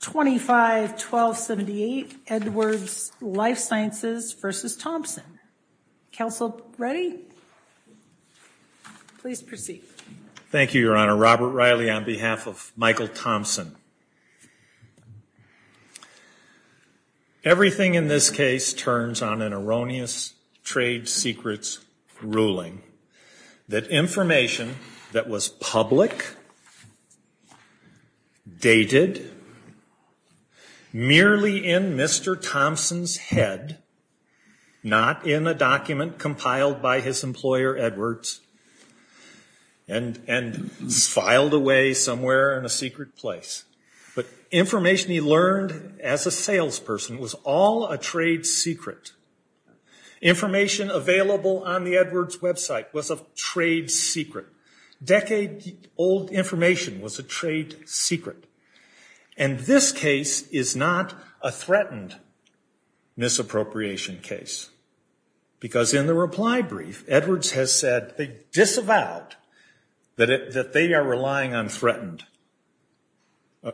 251278 Edwards Lifesciences v. Thompson. Counsel, ready? Please proceed. Thank you, Your Honor. Robert Riley on behalf of Michael Thompson. Everything in this case turns on an erroneous trade secrets ruling that information that was public, dated, merely in Mr. Thompson's head, not in a document compiled by his employer Edwards and and filed away somewhere in a secret place. But information he learned as a salesperson was all a trade secret. Information available on the information was a trade secret. And this case is not a threatened misappropriation case. Because in the reply brief, Edwards has said they disavowed that they are relying on threatened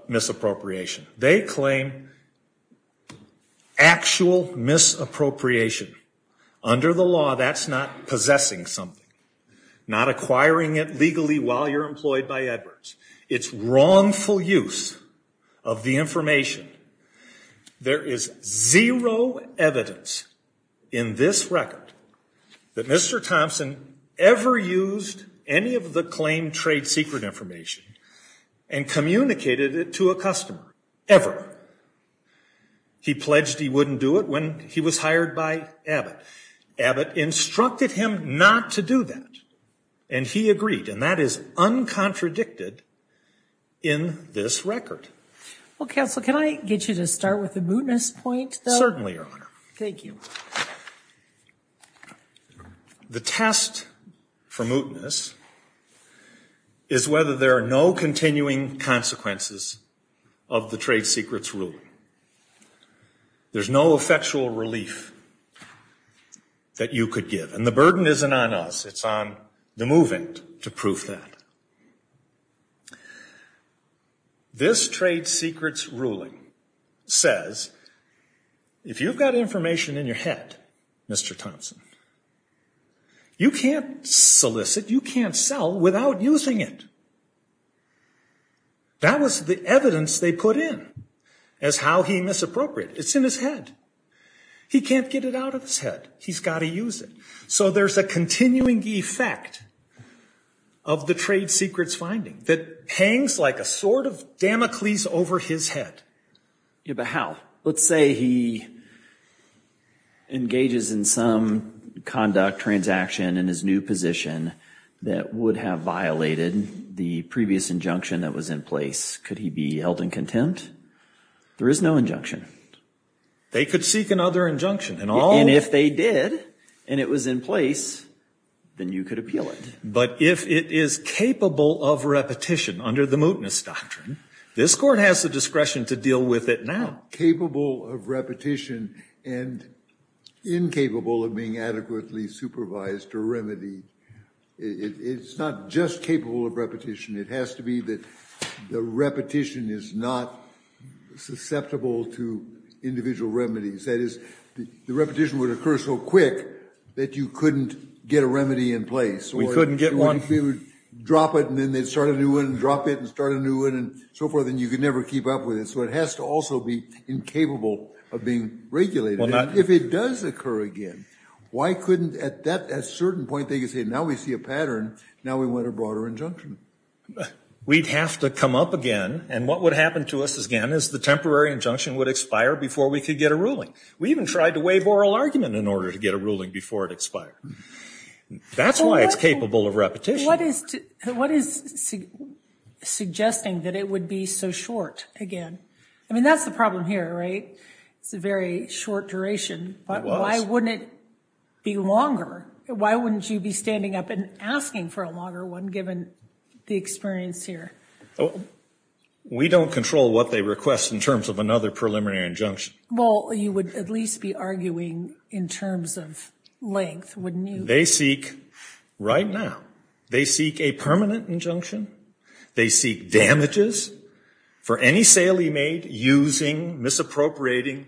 misappropriation. They claim actual misappropriation. Under the law, that's not possessing something. Not acquiring it legally while you're employed by Edwards. It's wrongful use of the information. There is zero evidence in this record that Mr. Thompson ever used any of the claimed trade secret information and communicated it to a customer. Ever. He pledged he wouldn't do it when he was hired by Abbott. Abbott instructed him not to do that. And he agreed. And that is uncontradicted in this record. Well, Counsel, can I get you to start with the mootness point, though? Certainly, Your Honor. Thank you. The test for mootness is whether there are no continuing consequences of the trade secrets ruling. There's no effectual relief that you could give. And the burden isn't on us. It's on the movement to prove that. This trade secrets ruling says, if you've got information in your head, Mr. Thompson, you can't solicit, you can't sell without using it. That was the evidence they put in as how he misappropriated. It's in his head. He can't get it out of his head. He's got to use it. So there's a continuing effect of the trade secrets finding that hangs like a sword of Damocles over his head. Yeah, but how? Let's say he engages in some conduct, transaction in his new position that would have violated the previous injunction that was in place. Could he be held in contempt? There is no injunction. They could seek another injunction. And if they did, and it was in place, then you could appeal it. But if it is capable of repetition under the mootness doctrine, this court has the discretion to deal with it now. Capable of repetition and incapable of being adequately supervised or remedied. It's not just capable of repetition. It has to be that the repetition is not susceptible to individual remedies. That is, the repetition would occur so quick that you couldn't get a remedy in place. We couldn't get one. You would drop it and then they'd start a new one and drop it and start a new one and so forth and you could never keep up with it. So it has to also be incapable of being regulated. If it does occur again, why couldn't at that certain point they could say, now we see a pattern, now we want a broader injunction? We'd have to come up again and what would happen to us again is the temporary injunction would expire before we could get a ruling. We even tried to waive oral argument in order to get a ruling before it expired. That's why it's capable of repetition. What is suggesting that it would be so short again? I mean, that's the problem here, right? It's a very short duration, but why wouldn't it be longer? Why wouldn't you be standing up and asking for a longer one given the experience here? We don't control what they request in terms of another preliminary injunction. Well, you would at least be arguing in terms of length, wouldn't you? They seek, right now, they seek a permanent injunction. They seek damages for any sale he made, using, misappropriating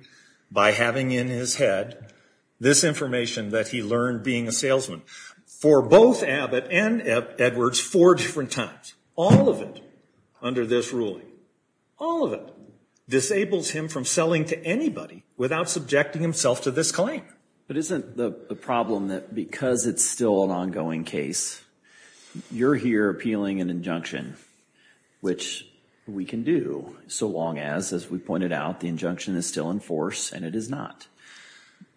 by having in his head this information that he learned being a salesman for both Abbott and Edwards four different times. All of it under this ruling, all of it, disables him from selling to anybody without subjecting himself to this claim. But isn't the problem that because it's still an ongoing case, you're here appealing an injunction, which we can do, so long as, as we pointed out, the injunction is still in force and it is not.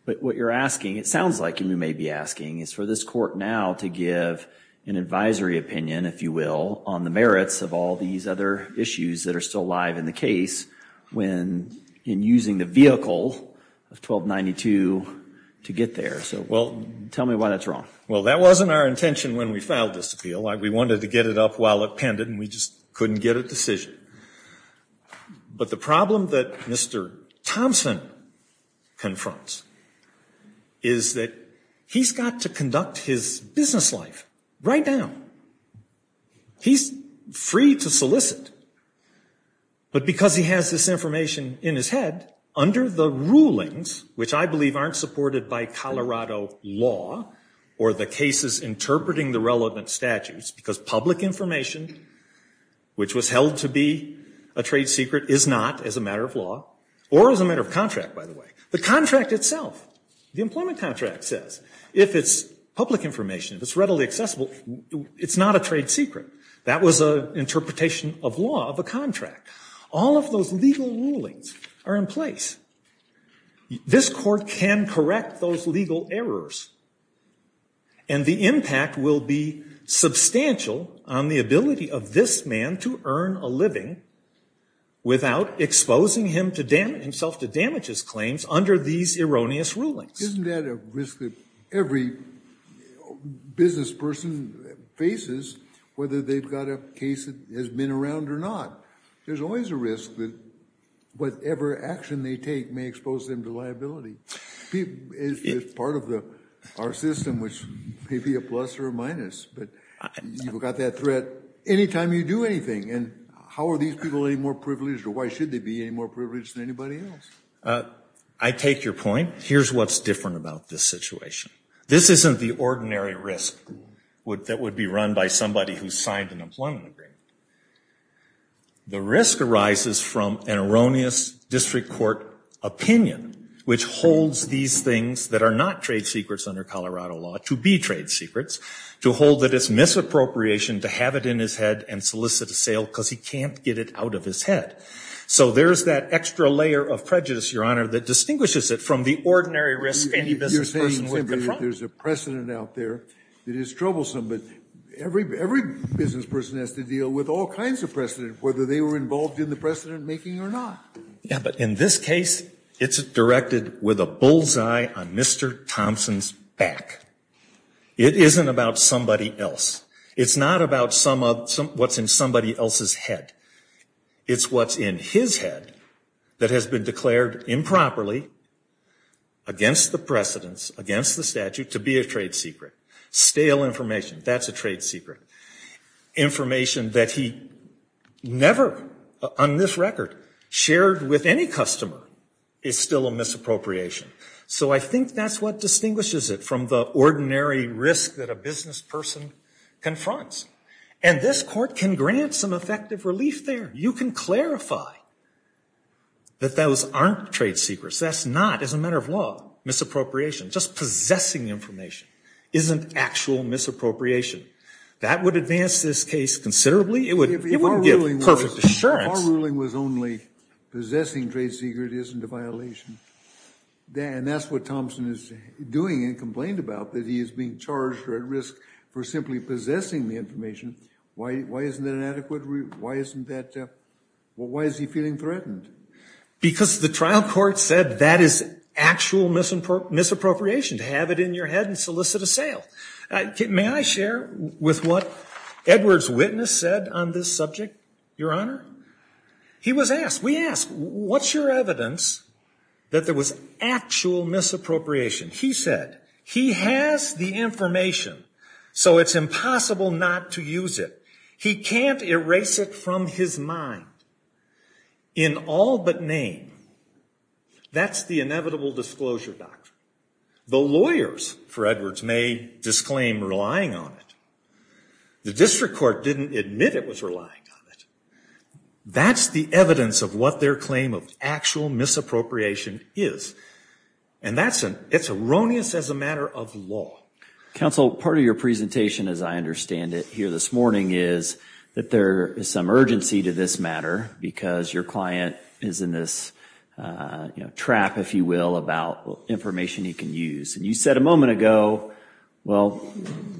But what you're asking, it sounds like you may be asking, is for this court now to give an advisory opinion, if you will, on the merits of all these other issues that are still alive in the case when, in using the vehicle of 1292 to get there. So tell me why that's wrong. Well, that wasn't our intention when we filed this appeal. We wanted to get it up while it pended, and we just couldn't get a decision. But the problem that Mr. Thompson confronts is that he's got to conduct his business life right now. He's free to solicit. But because he has this information in his head, under the rulings, which I believe aren't supported by Colorado law or the cases interpreting the relevant statutes, because public information, which was held to be a trade secret, is not, as a matter of law, or as a matter of contract, by the way. The contract itself, the employment contract says, if it's public information, if it's readily accessible, it's not a trade secret. That was an interpretation of law of a contract. All of those legal rulings are in place. This court can correct those legal errors, and the impact will be substantial on the ability of this man to earn a living without exposing himself to damages claims under these erroneous rulings. Isn't that a risk that every business person faces, whether they've got a case that has been around or not? There's always a risk that whatever action they take may expose them to liability. It's part of our system, which may be a plus or a minus, but you've got that threat any time you do anything, and how are these people any more privileged, or why should they be any more privileged than anybody else? I take your point. Here's what's different about this situation. This isn't the ordinary risk that would be run by somebody who signed an employment agreement. The risk arises from an erroneous district court opinion, which holds these things that are not trade secrets under Colorado law to be trade secrets, to hold that it's misappropriation to have it in his head and solicit a sale because he can't get it out of his head. So there's that extra layer of prejudice, Your Honor, that distinguishes it from the ordinary risk any business person can confront. You're saying simply that there's a precedent out there that is troublesome, but every business person has to deal with all kinds of precedent, whether they were involved in the precedent making or not. Yeah, but in this case, it's directed with a bullseye on Mr. Thompson's back. It isn't about somebody else. It's not about what's in somebody else's head. It's what's in his head that has been declared improperly against the precedents, against the statute, to be a trade secret. Stale information. That's a trade secret. Information that he never, on this record, shared with any customer is still a misappropriation. So I think that's what distinguishes it from the ordinary risk that a business person confronts. And this court can grant some effective relief there. You can clarify that those aren't trade secrets. That's not, as a matter of law, misappropriation. Just possessing information isn't actual misappropriation. That would advance this case considerably. It wouldn't give perfect assurance. If our ruling was only possessing trade secret isn't a violation, and that's what Thompson is doing and complained about, that he is being charged or at risk for simply possessing the information, why isn't that an adequate, why isn't that, well, why is he feeling threatened? Because the trial court said that is actual misappropriation, to have it in your head and solicit a sale. May I share with what Edwards' witness said on this subject, Your Honor? He was asked, we asked, what's your evidence that there was actual misappropriation? He said, he has the information, so it's impossible not to use it. He can't erase it from his mind. In all but name, that's the inevitable disclosure doctrine. The lawyers, for Edwards, may disclaim relying on it. The district court didn't admit it was relying on it. That's the evidence of what their claim of actual misappropriation is. And that's, it's erroneous as a matter of law. Counsel, part of your presentation, as I understand it here this morning, is that there is some urgency to this matter, because your client is in this, you know, trap, if you will, about information he can use. And you said a moment ago, well,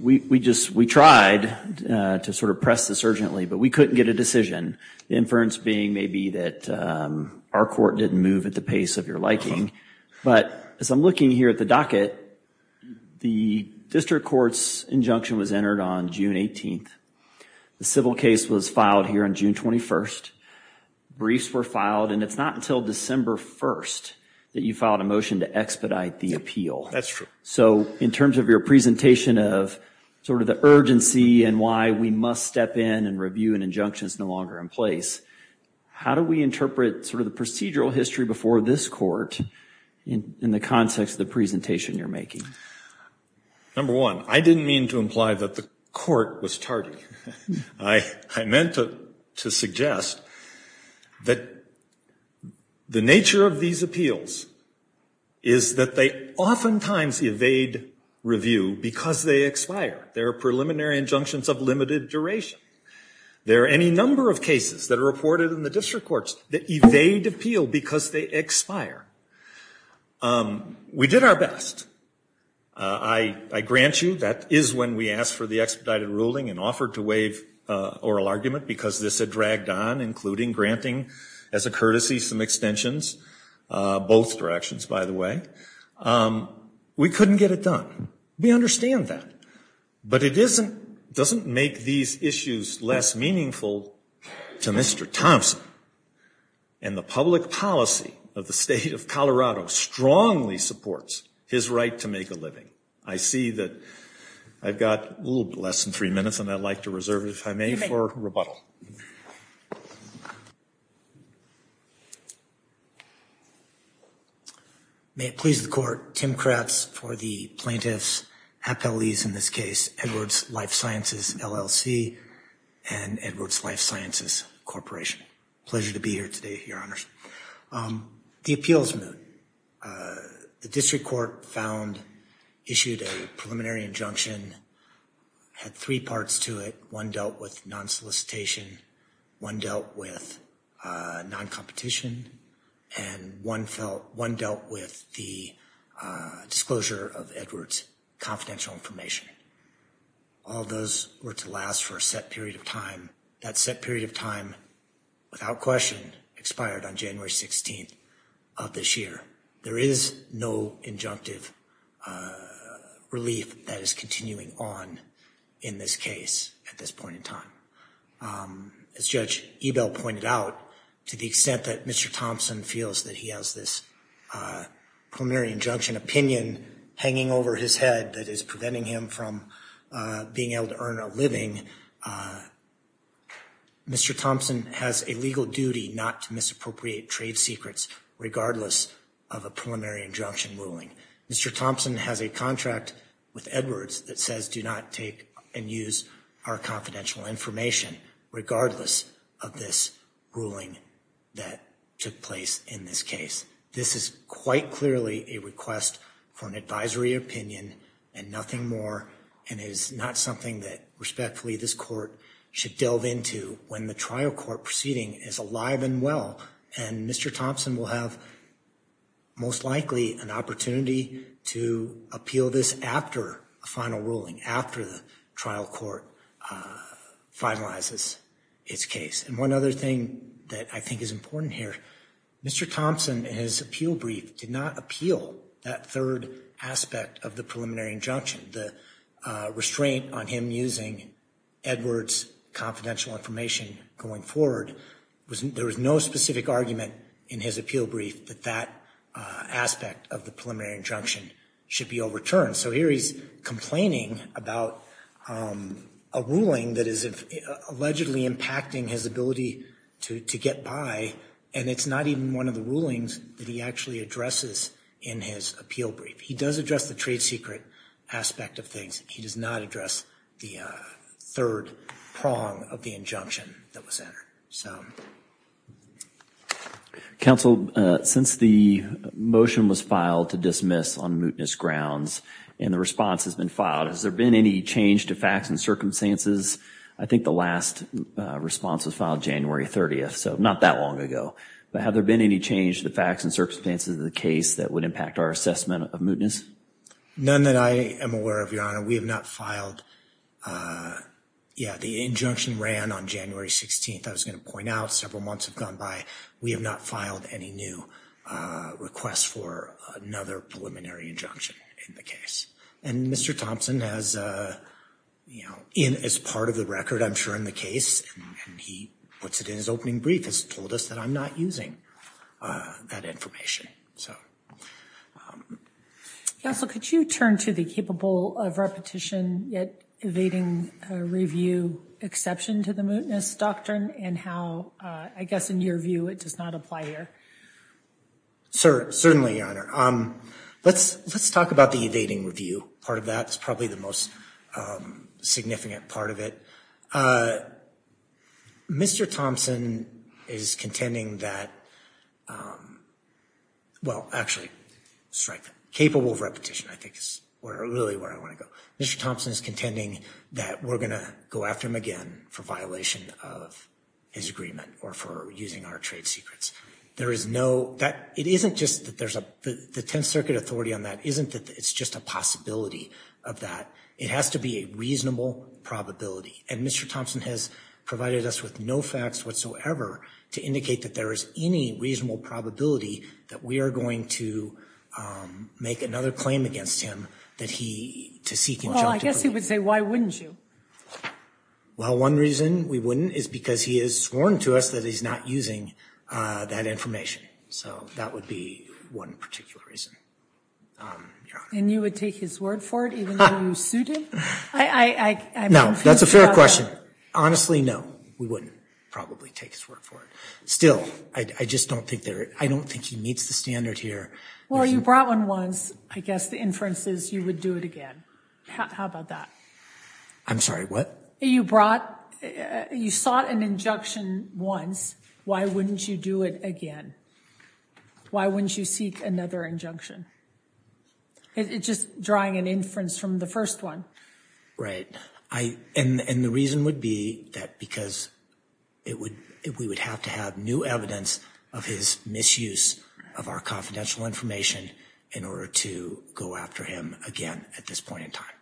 we just, we tried to sort of press this urgently, but we couldn't get a decision. The inference being maybe that our court didn't move at the pace of your liking. But as I'm looking here at the docket, the district court's injunction was entered on June 18th. The civil case was filed here on June 21st. Briefs were filed, and it's not until December 1st that you filed a motion to expedite the appeal. That's true. So in terms of your presentation of sort of the urgency and why we must step in and review an injunction that's no longer in place, how do we interpret sort of the procedural history before this court in the context of the presentation you're making? Number one, I didn't mean to imply that the court was tardy. I meant to suggest that the nature of these appeals is that they oftentimes evade review because they expire. There are preliminary injunctions of limited duration. There are any number of cases that are reported in the district courts that evade appeal because they expire. We did our best. I grant you that is when we asked for the expedited ruling and offered to waive oral argument because this had dragged on, including granting as a courtesy some extensions, both directions, by the way. We couldn't get it done. We understand that. But it doesn't make these issues less meaningful to Mr. Thompson and the public policy of the state of Colorado strongly supports his right to make a living. I see that I've got a little less than three minutes, and I'd like to reserve it, if I may, for rebuttal. May it please the court. Tim Kratz for the plaintiffs, appellees in this case, Edwards Life Sciences, LLC, and Edwards Life Sciences Corporation. Pleasure to be here today, Your Honors. The appeal is removed. The district court found, issued a preliminary injunction, had three parts to it. One dealt with non-solicitation. One dealt with non-competition. And one dealt with the disclosure of Edwards' confidential information. All those were to last for a set period of time. That set period of time, without question, expired on January 16th of this year. There is no injunctive relief that is continuing on in this case at this point in time. As Judge Ebel pointed out, to the extent that Mr. Thompson feels that he has this preliminary injunction opinion hanging over his head that is preventing him from being able to earn a living, Mr. Thompson has a legal duty not to misappropriate trade secrets, regardless of a preliminary injunction ruling. Mr. Thompson has a contract with Edwards that says do not take and use our confidential information, regardless of this ruling that took place in this case. This is quite clearly a request for an advisory opinion and nothing more, and is not something that, respectfully, this court should delve into when the trial court proceeding is alive and well. And Mr. Thompson will have, most likely, an opportunity to appeal this after a final ruling, after the trial court finalizes its case. And one other thing that I think is important here, Mr. Thompson, in his appeal brief, did not appeal that third aspect of the preliminary injunction, the restraint on him using Edwards' confidential information going forward. There was no specific argument in his appeal brief that that aspect of the preliminary injunction should be overturned. So here he's complaining about a ruling that is allegedly impacting his ability to get by, and it's not even one of the rulings that he actually addresses in his appeal brief. He does address the trade secret aspect of things. He does not address the third prong of the injunction that was entered. Counsel, since the motion was filed to dismiss on mootness grounds and the response has been filed, has there been any change to facts and circumstances? I think the last response was filed January 30th, so not that long ago. But have there been any change to the facts and circumstances of the case that would impact our assessment of mootness? None that I am aware of, Your Honor. We have not filed, yeah, the injunction ran on January 16th, I was going to point out. Several months have gone by. We have not filed any new requests for another preliminary injunction in the case. And Mr. Thompson has, you know, as part of the record, I'm sure, in the case, and he puts it in his opening brief, has told us that I'm not using that information. Okay. Counsel, could you turn to the capable of repetition yet evading review exception to the mootness doctrine and how, I guess in your view, it does not apply here? Certainly, Your Honor. Let's talk about the evading review part of that. It's probably the most significant part of it. Mr. Thompson is contending that, well, actually, strike that. Capable of repetition, I think, is really where I want to go. Mr. Thompson is contending that we're going to go after him again for violation of his agreement or for using our trade secrets. There is no, it isn't just that there's a, the Tenth Circuit authority on that isn't just a possibility of that. It has to be a reasonable probability. And Mr. Thompson has provided us with no facts whatsoever to indicate that there is any reasonable probability that we are going to make another claim against him that he, to seek injunctive plea. Well, I guess he would say, why wouldn't you? Well, one reason we wouldn't is because he has sworn to us that he's not using that information. So that would be one particular reason. And you would take his word for it even though you sued him? No, that's a fair question. Honestly, no, we wouldn't probably take his word for it. Still, I just don't think there, I don't think he meets the standard here. Well, you brought one once. I guess the inference is you would do it again. How about that? I'm sorry, what? You brought, you sought an injunction once. Why wouldn't you do it again? Why wouldn't you seek another injunction? It's just drawing an inference from the first one. Right. And the reason would be that because we would have to have new evidence of his misuse of our confidential information in order to go after him again at this point in time.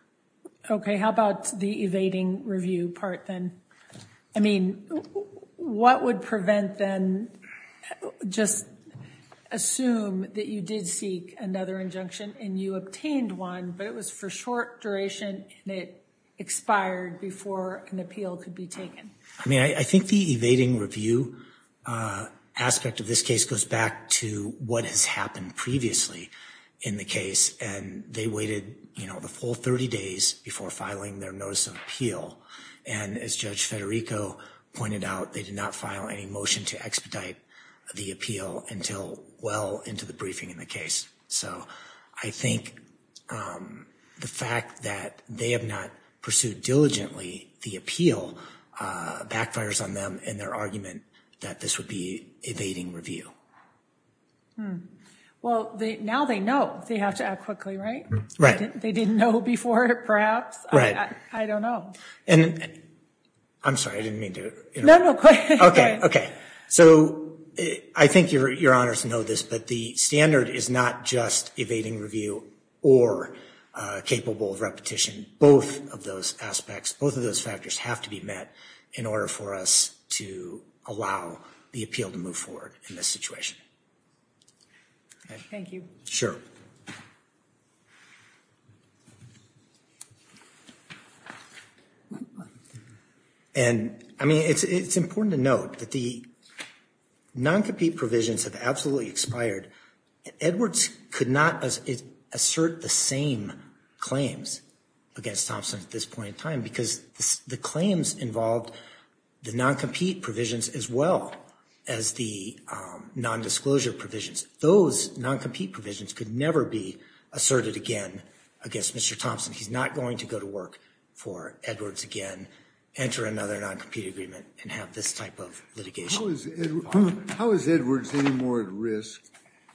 Okay, how about the evading review part then? I mean, what would prevent then just assume that you did seek another injunction and you obtained one, but it was for short duration and it expired before an appeal could be taken? I mean, I think the evading review aspect of this case goes back to what has happened previously in the case. And they waited, you know, the full 30 days before filing their notice of appeal. And as Judge Federico pointed out, they did not file any motion to expedite the appeal until well into the briefing in the case. So I think the fact that they have not pursued diligently the appeal backfires on them in their argument that this would be evading review. Well, now they know they have to act quickly, right? Right. They didn't know before perhaps? Right. I don't know. And I'm sorry, I didn't mean to interrupt. No, no, go ahead. Okay, okay. So I think you're honored to know this, but the standard is not just evading review or capable of repetition. Both of those aspects, both of those factors have to be met in order for us to allow the appeal to move forward in this situation. Thank you. Sure. And, I mean, it's important to note that the non-compete provisions have absolutely expired. Edwards could not assert the same claims against Thompson at this point in time because the claims involved the non-compete provisions as well as the non-disclosure provisions. Those non-compete provisions could never be asserted again against Mr. Thompson. He's not going to go to work for Edwards again, enter another non-compete agreement, and have this type of litigation. How is Edwards any more at risk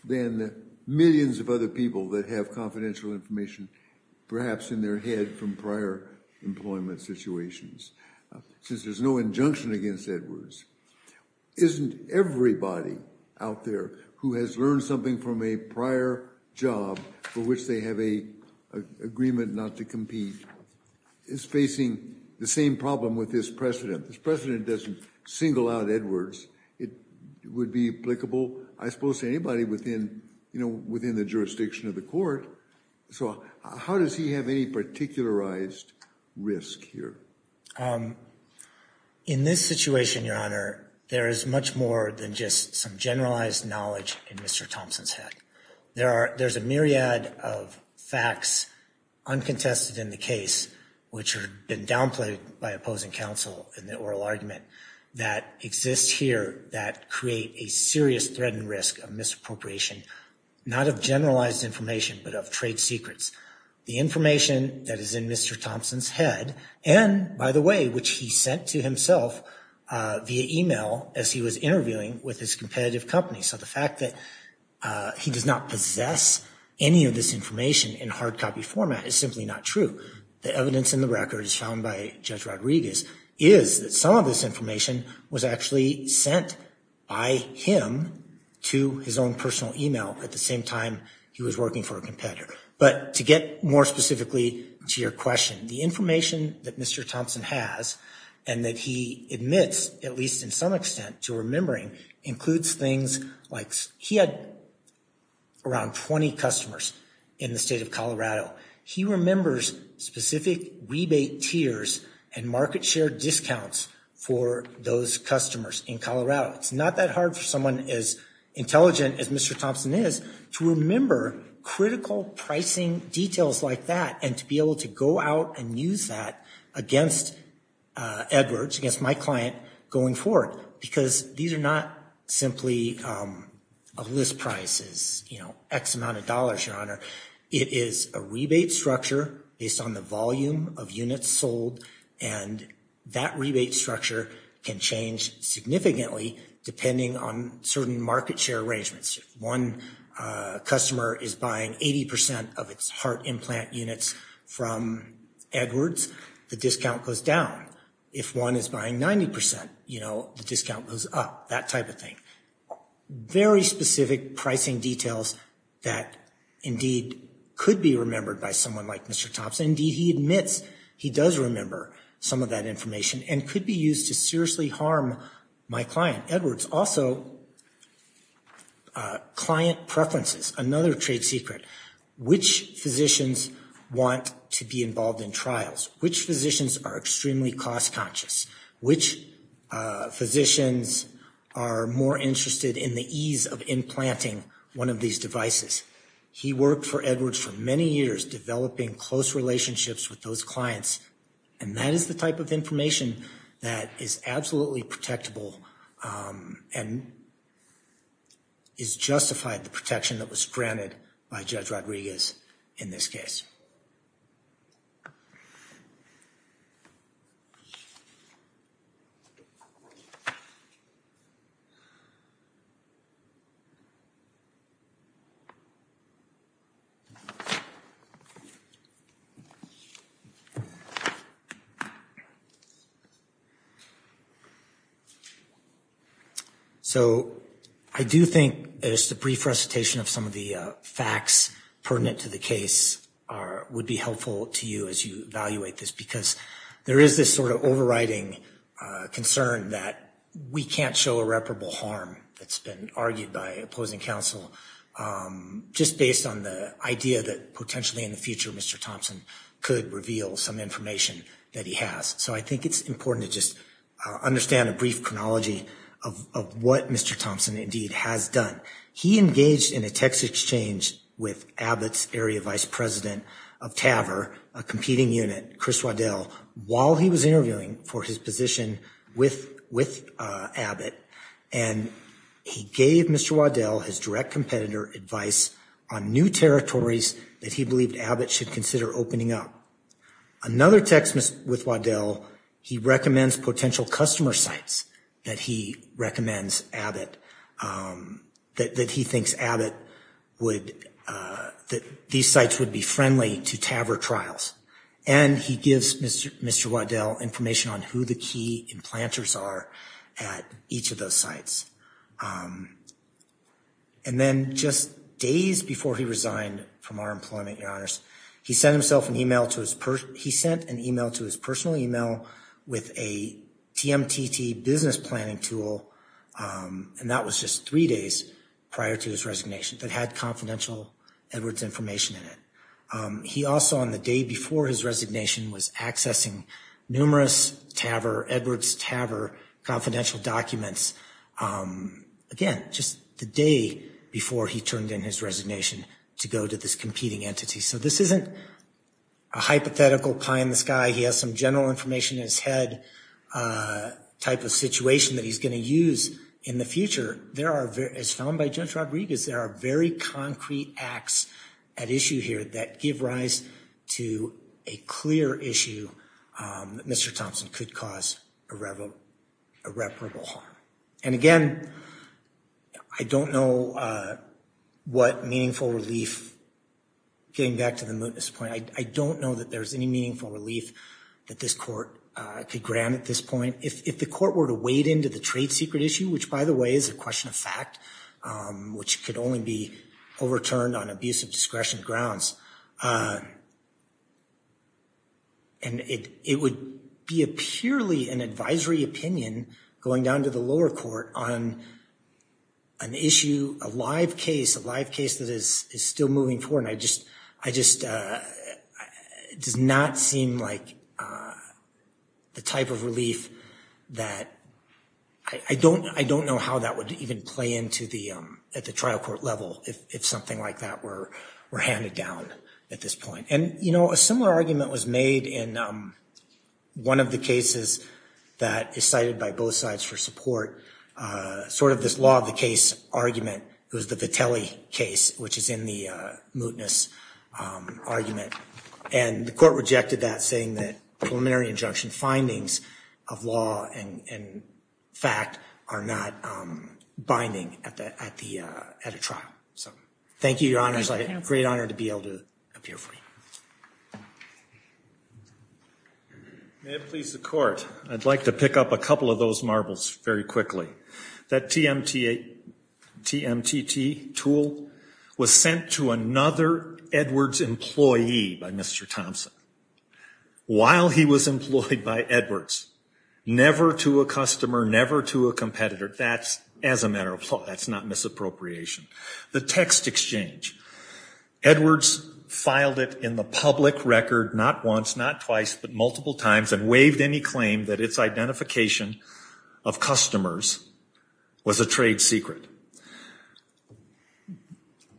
than millions of other people that have confidential information perhaps in their head from prior employment situations? Since there's no injunction against Edwards, isn't everybody out there who has learned something from a prior job for which they have an agreement not to compete is facing the same problem with this precedent? This precedent doesn't single out Edwards. It would be applicable, I suppose, to anybody within the jurisdiction of the court. So how does he have any particularized risk here? In this situation, Your Honor, there is much more than just some generalized knowledge in Mr. Thompson's head. There's a myriad of facts uncontested in the case which have been downplayed by opposing counsel in the oral argument that exist here that create a serious threat and risk of misappropriation, not of generalized information but of trade secrets. The information that is in Mr. Thompson's head and, by the way, which he sent to himself via email as he was interviewing with his competitive company. So the fact that he does not possess any of this information in hard copy format is simply not true. The evidence in the record, as found by Judge Rodriguez, is that some of this information was actually sent by him to his own personal email at the same time he was working for a competitor. But to get more specifically to your question, the information that Mr. Thompson has and that he admits, at least in some extent, to remembering includes things like he had around 20 customers in the state of Colorado. He remembers specific rebate tiers and market share discounts for those customers in Colorado. It's not that hard for someone as intelligent as Mr. Thompson is to remember critical pricing details like that and to be able to go out and use that against Edwards, against my client, going forward. Because these are not simply list prices, you know, X amount of dollars, Your Honor. It is a rebate structure based on the volume of units sold, and that rebate structure can change significantly depending on certain market share arrangements. If one customer is buying 80% of its heart implant units from Edwards, the discount goes down. If one is buying 90%, you know, the discount goes up, that type of thing. Very specific pricing details that indeed could be remembered by someone like Mr. Thompson. Indeed, he admits he does remember some of that information and could be used to seriously harm my client, Edwards. Also, client preferences, another trade secret. Which physicians want to be involved in trials? Which physicians are extremely cost conscious? Which physicians are more interested in the ease of implanting one of these devices? He worked for Edwards for many years developing close relationships with those clients, and that is the type of information that is absolutely protectable and is justified the protection that was granted by Judge Rodriguez in this case. So, I do think that it's the brief recitation of some of the facts pertinent to the case would be helpful to you as you evaluate this. Because there is this sort of overriding concern that we can't show irreparable harm that's been argued by opposing counsel. Just based on the idea that potentially in the future Mr. Thompson could reveal some information that he has. So, I think it's important to just understand a brief chronology of what Mr. Thompson indeed has done. He engaged in a text exchange with Abbott's area vice president of TAVR, a competing unit, Chris Waddell, while he was interviewing for his position with Abbott. And he gave Mr. Waddell his direct competitor advice on new territories that he believed Abbott should consider opening up. Another text with Waddell, he recommends potential customer sites that he recommends Abbott, that he thinks Abbott would, that these sites would be friendly to TAVR trials. And he gives Mr. Waddell information on who the key implanters are at each of those sites. And then just days before he resigned from our employment, your honors, he sent himself an email to his, he sent an email to his personal email with a TMTT business planning tool. And that was just three days prior to his resignation that had confidential Edwards information in it. He also, on the day before his resignation, was accessing numerous TAVR, Edwards TAVR, confidential documents. Again, just the day before he turned in his resignation to go to this competing entity. So, this isn't a hypothetical pie in the sky. He has some general information in his head type of situation that he's going to use in the future. As found by Judge Rodriguez, there are very concrete acts at issue here that give rise to a clear issue that Mr. Thompson could cause irreparable harm. And again, I don't know what meaningful relief, getting back to the mootness point, I don't know that there's any meaningful relief that this court could grant at this point. If the court were to wade into the trade secret issue, which by the way is a question of fact, which could only be overturned on abuse of discretion grounds. And it would be a purely an advisory opinion going down to the lower court on an issue, a live case, a live case that is still moving forward. And I just, I just, it does not seem like the type of relief that, I don't, I don't know how that would even play into the, at the trial court level if something like that were handed down at this point. And, you know, a similar argument was made in one of the cases that is cited by both sides for support. Sort of this law of the case argument, it was the Vitelli case, which is in the mootness argument. And the court rejected that, saying that preliminary injunction findings of law and fact are not binding at the, at the, at a trial. So thank you, Your Honor. It's a great honor to be able to appear for you. May it please the court, I'd like to pick up a couple of those marbles very quickly. That TMT, TMTT tool was sent to another Edwards employee by Mr. Thompson while he was employed by Edwards, never to a customer, never to a competitor. That's, as a matter of law, that's not misappropriation. The text exchange, Edwards filed it in the public record, not once, not twice, but multiple times, and waived any claim that its identification of customers was a trade secret.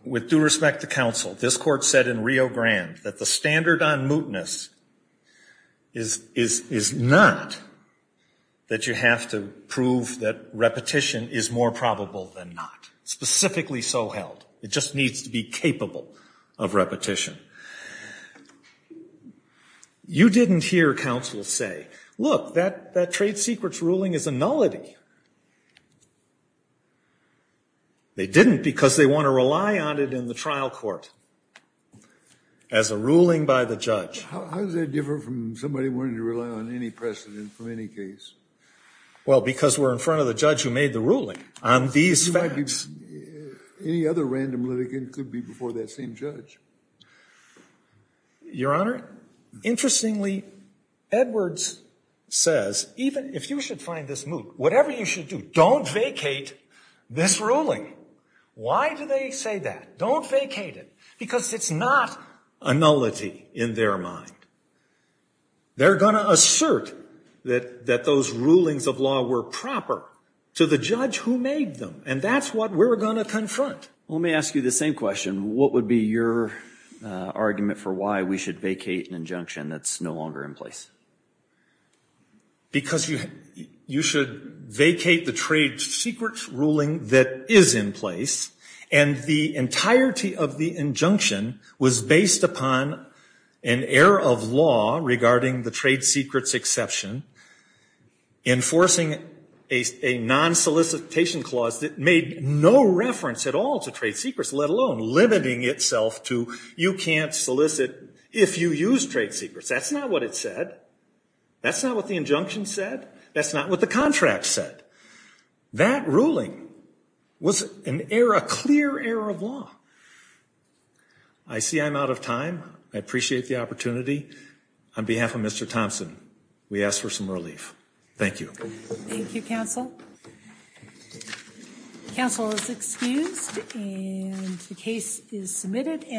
With due respect to counsel, this court said in Rio Grande that the standard on mootness is, is, is not that you have to prove that repetition is more probable than not. Specifically so held. It just needs to be capable of repetition. You didn't hear counsel say, look, that, that trade secret's ruling is a nullity. They didn't because they want to rely on it in the trial court as a ruling by the judge. Your Honor, interestingly, Edwards says, even if you should find this moot, whatever you should do, don't vacate this ruling. Why do they say that? Don't vacate it. Because it's not a nullity in their mind. They're going to assert that, that those rulings of law were proper to the judge who made them. And that's what we're going to confront. Let me ask you the same question. What would be your argument for why we should vacate an injunction that's no longer in place? Because you, you should vacate the trade secret's ruling that is in place, and the entirety of the injunction was based upon an error of law regarding the trade secret's exception, enforcing a, a non-solicitation clause that made no reference at all to trade secrets, let alone limiting itself to you can't solicit if you use trade secrets. That's not what it said. That's not what the injunction said. That's not what the contract said. That ruling was an error, a clear error of law. I see I'm out of time. I appreciate the opportunity. On behalf of Mr. Thompson, we ask for some relief. Thank you. Thank you, Counsel. Counsel is excused and the case is submitted.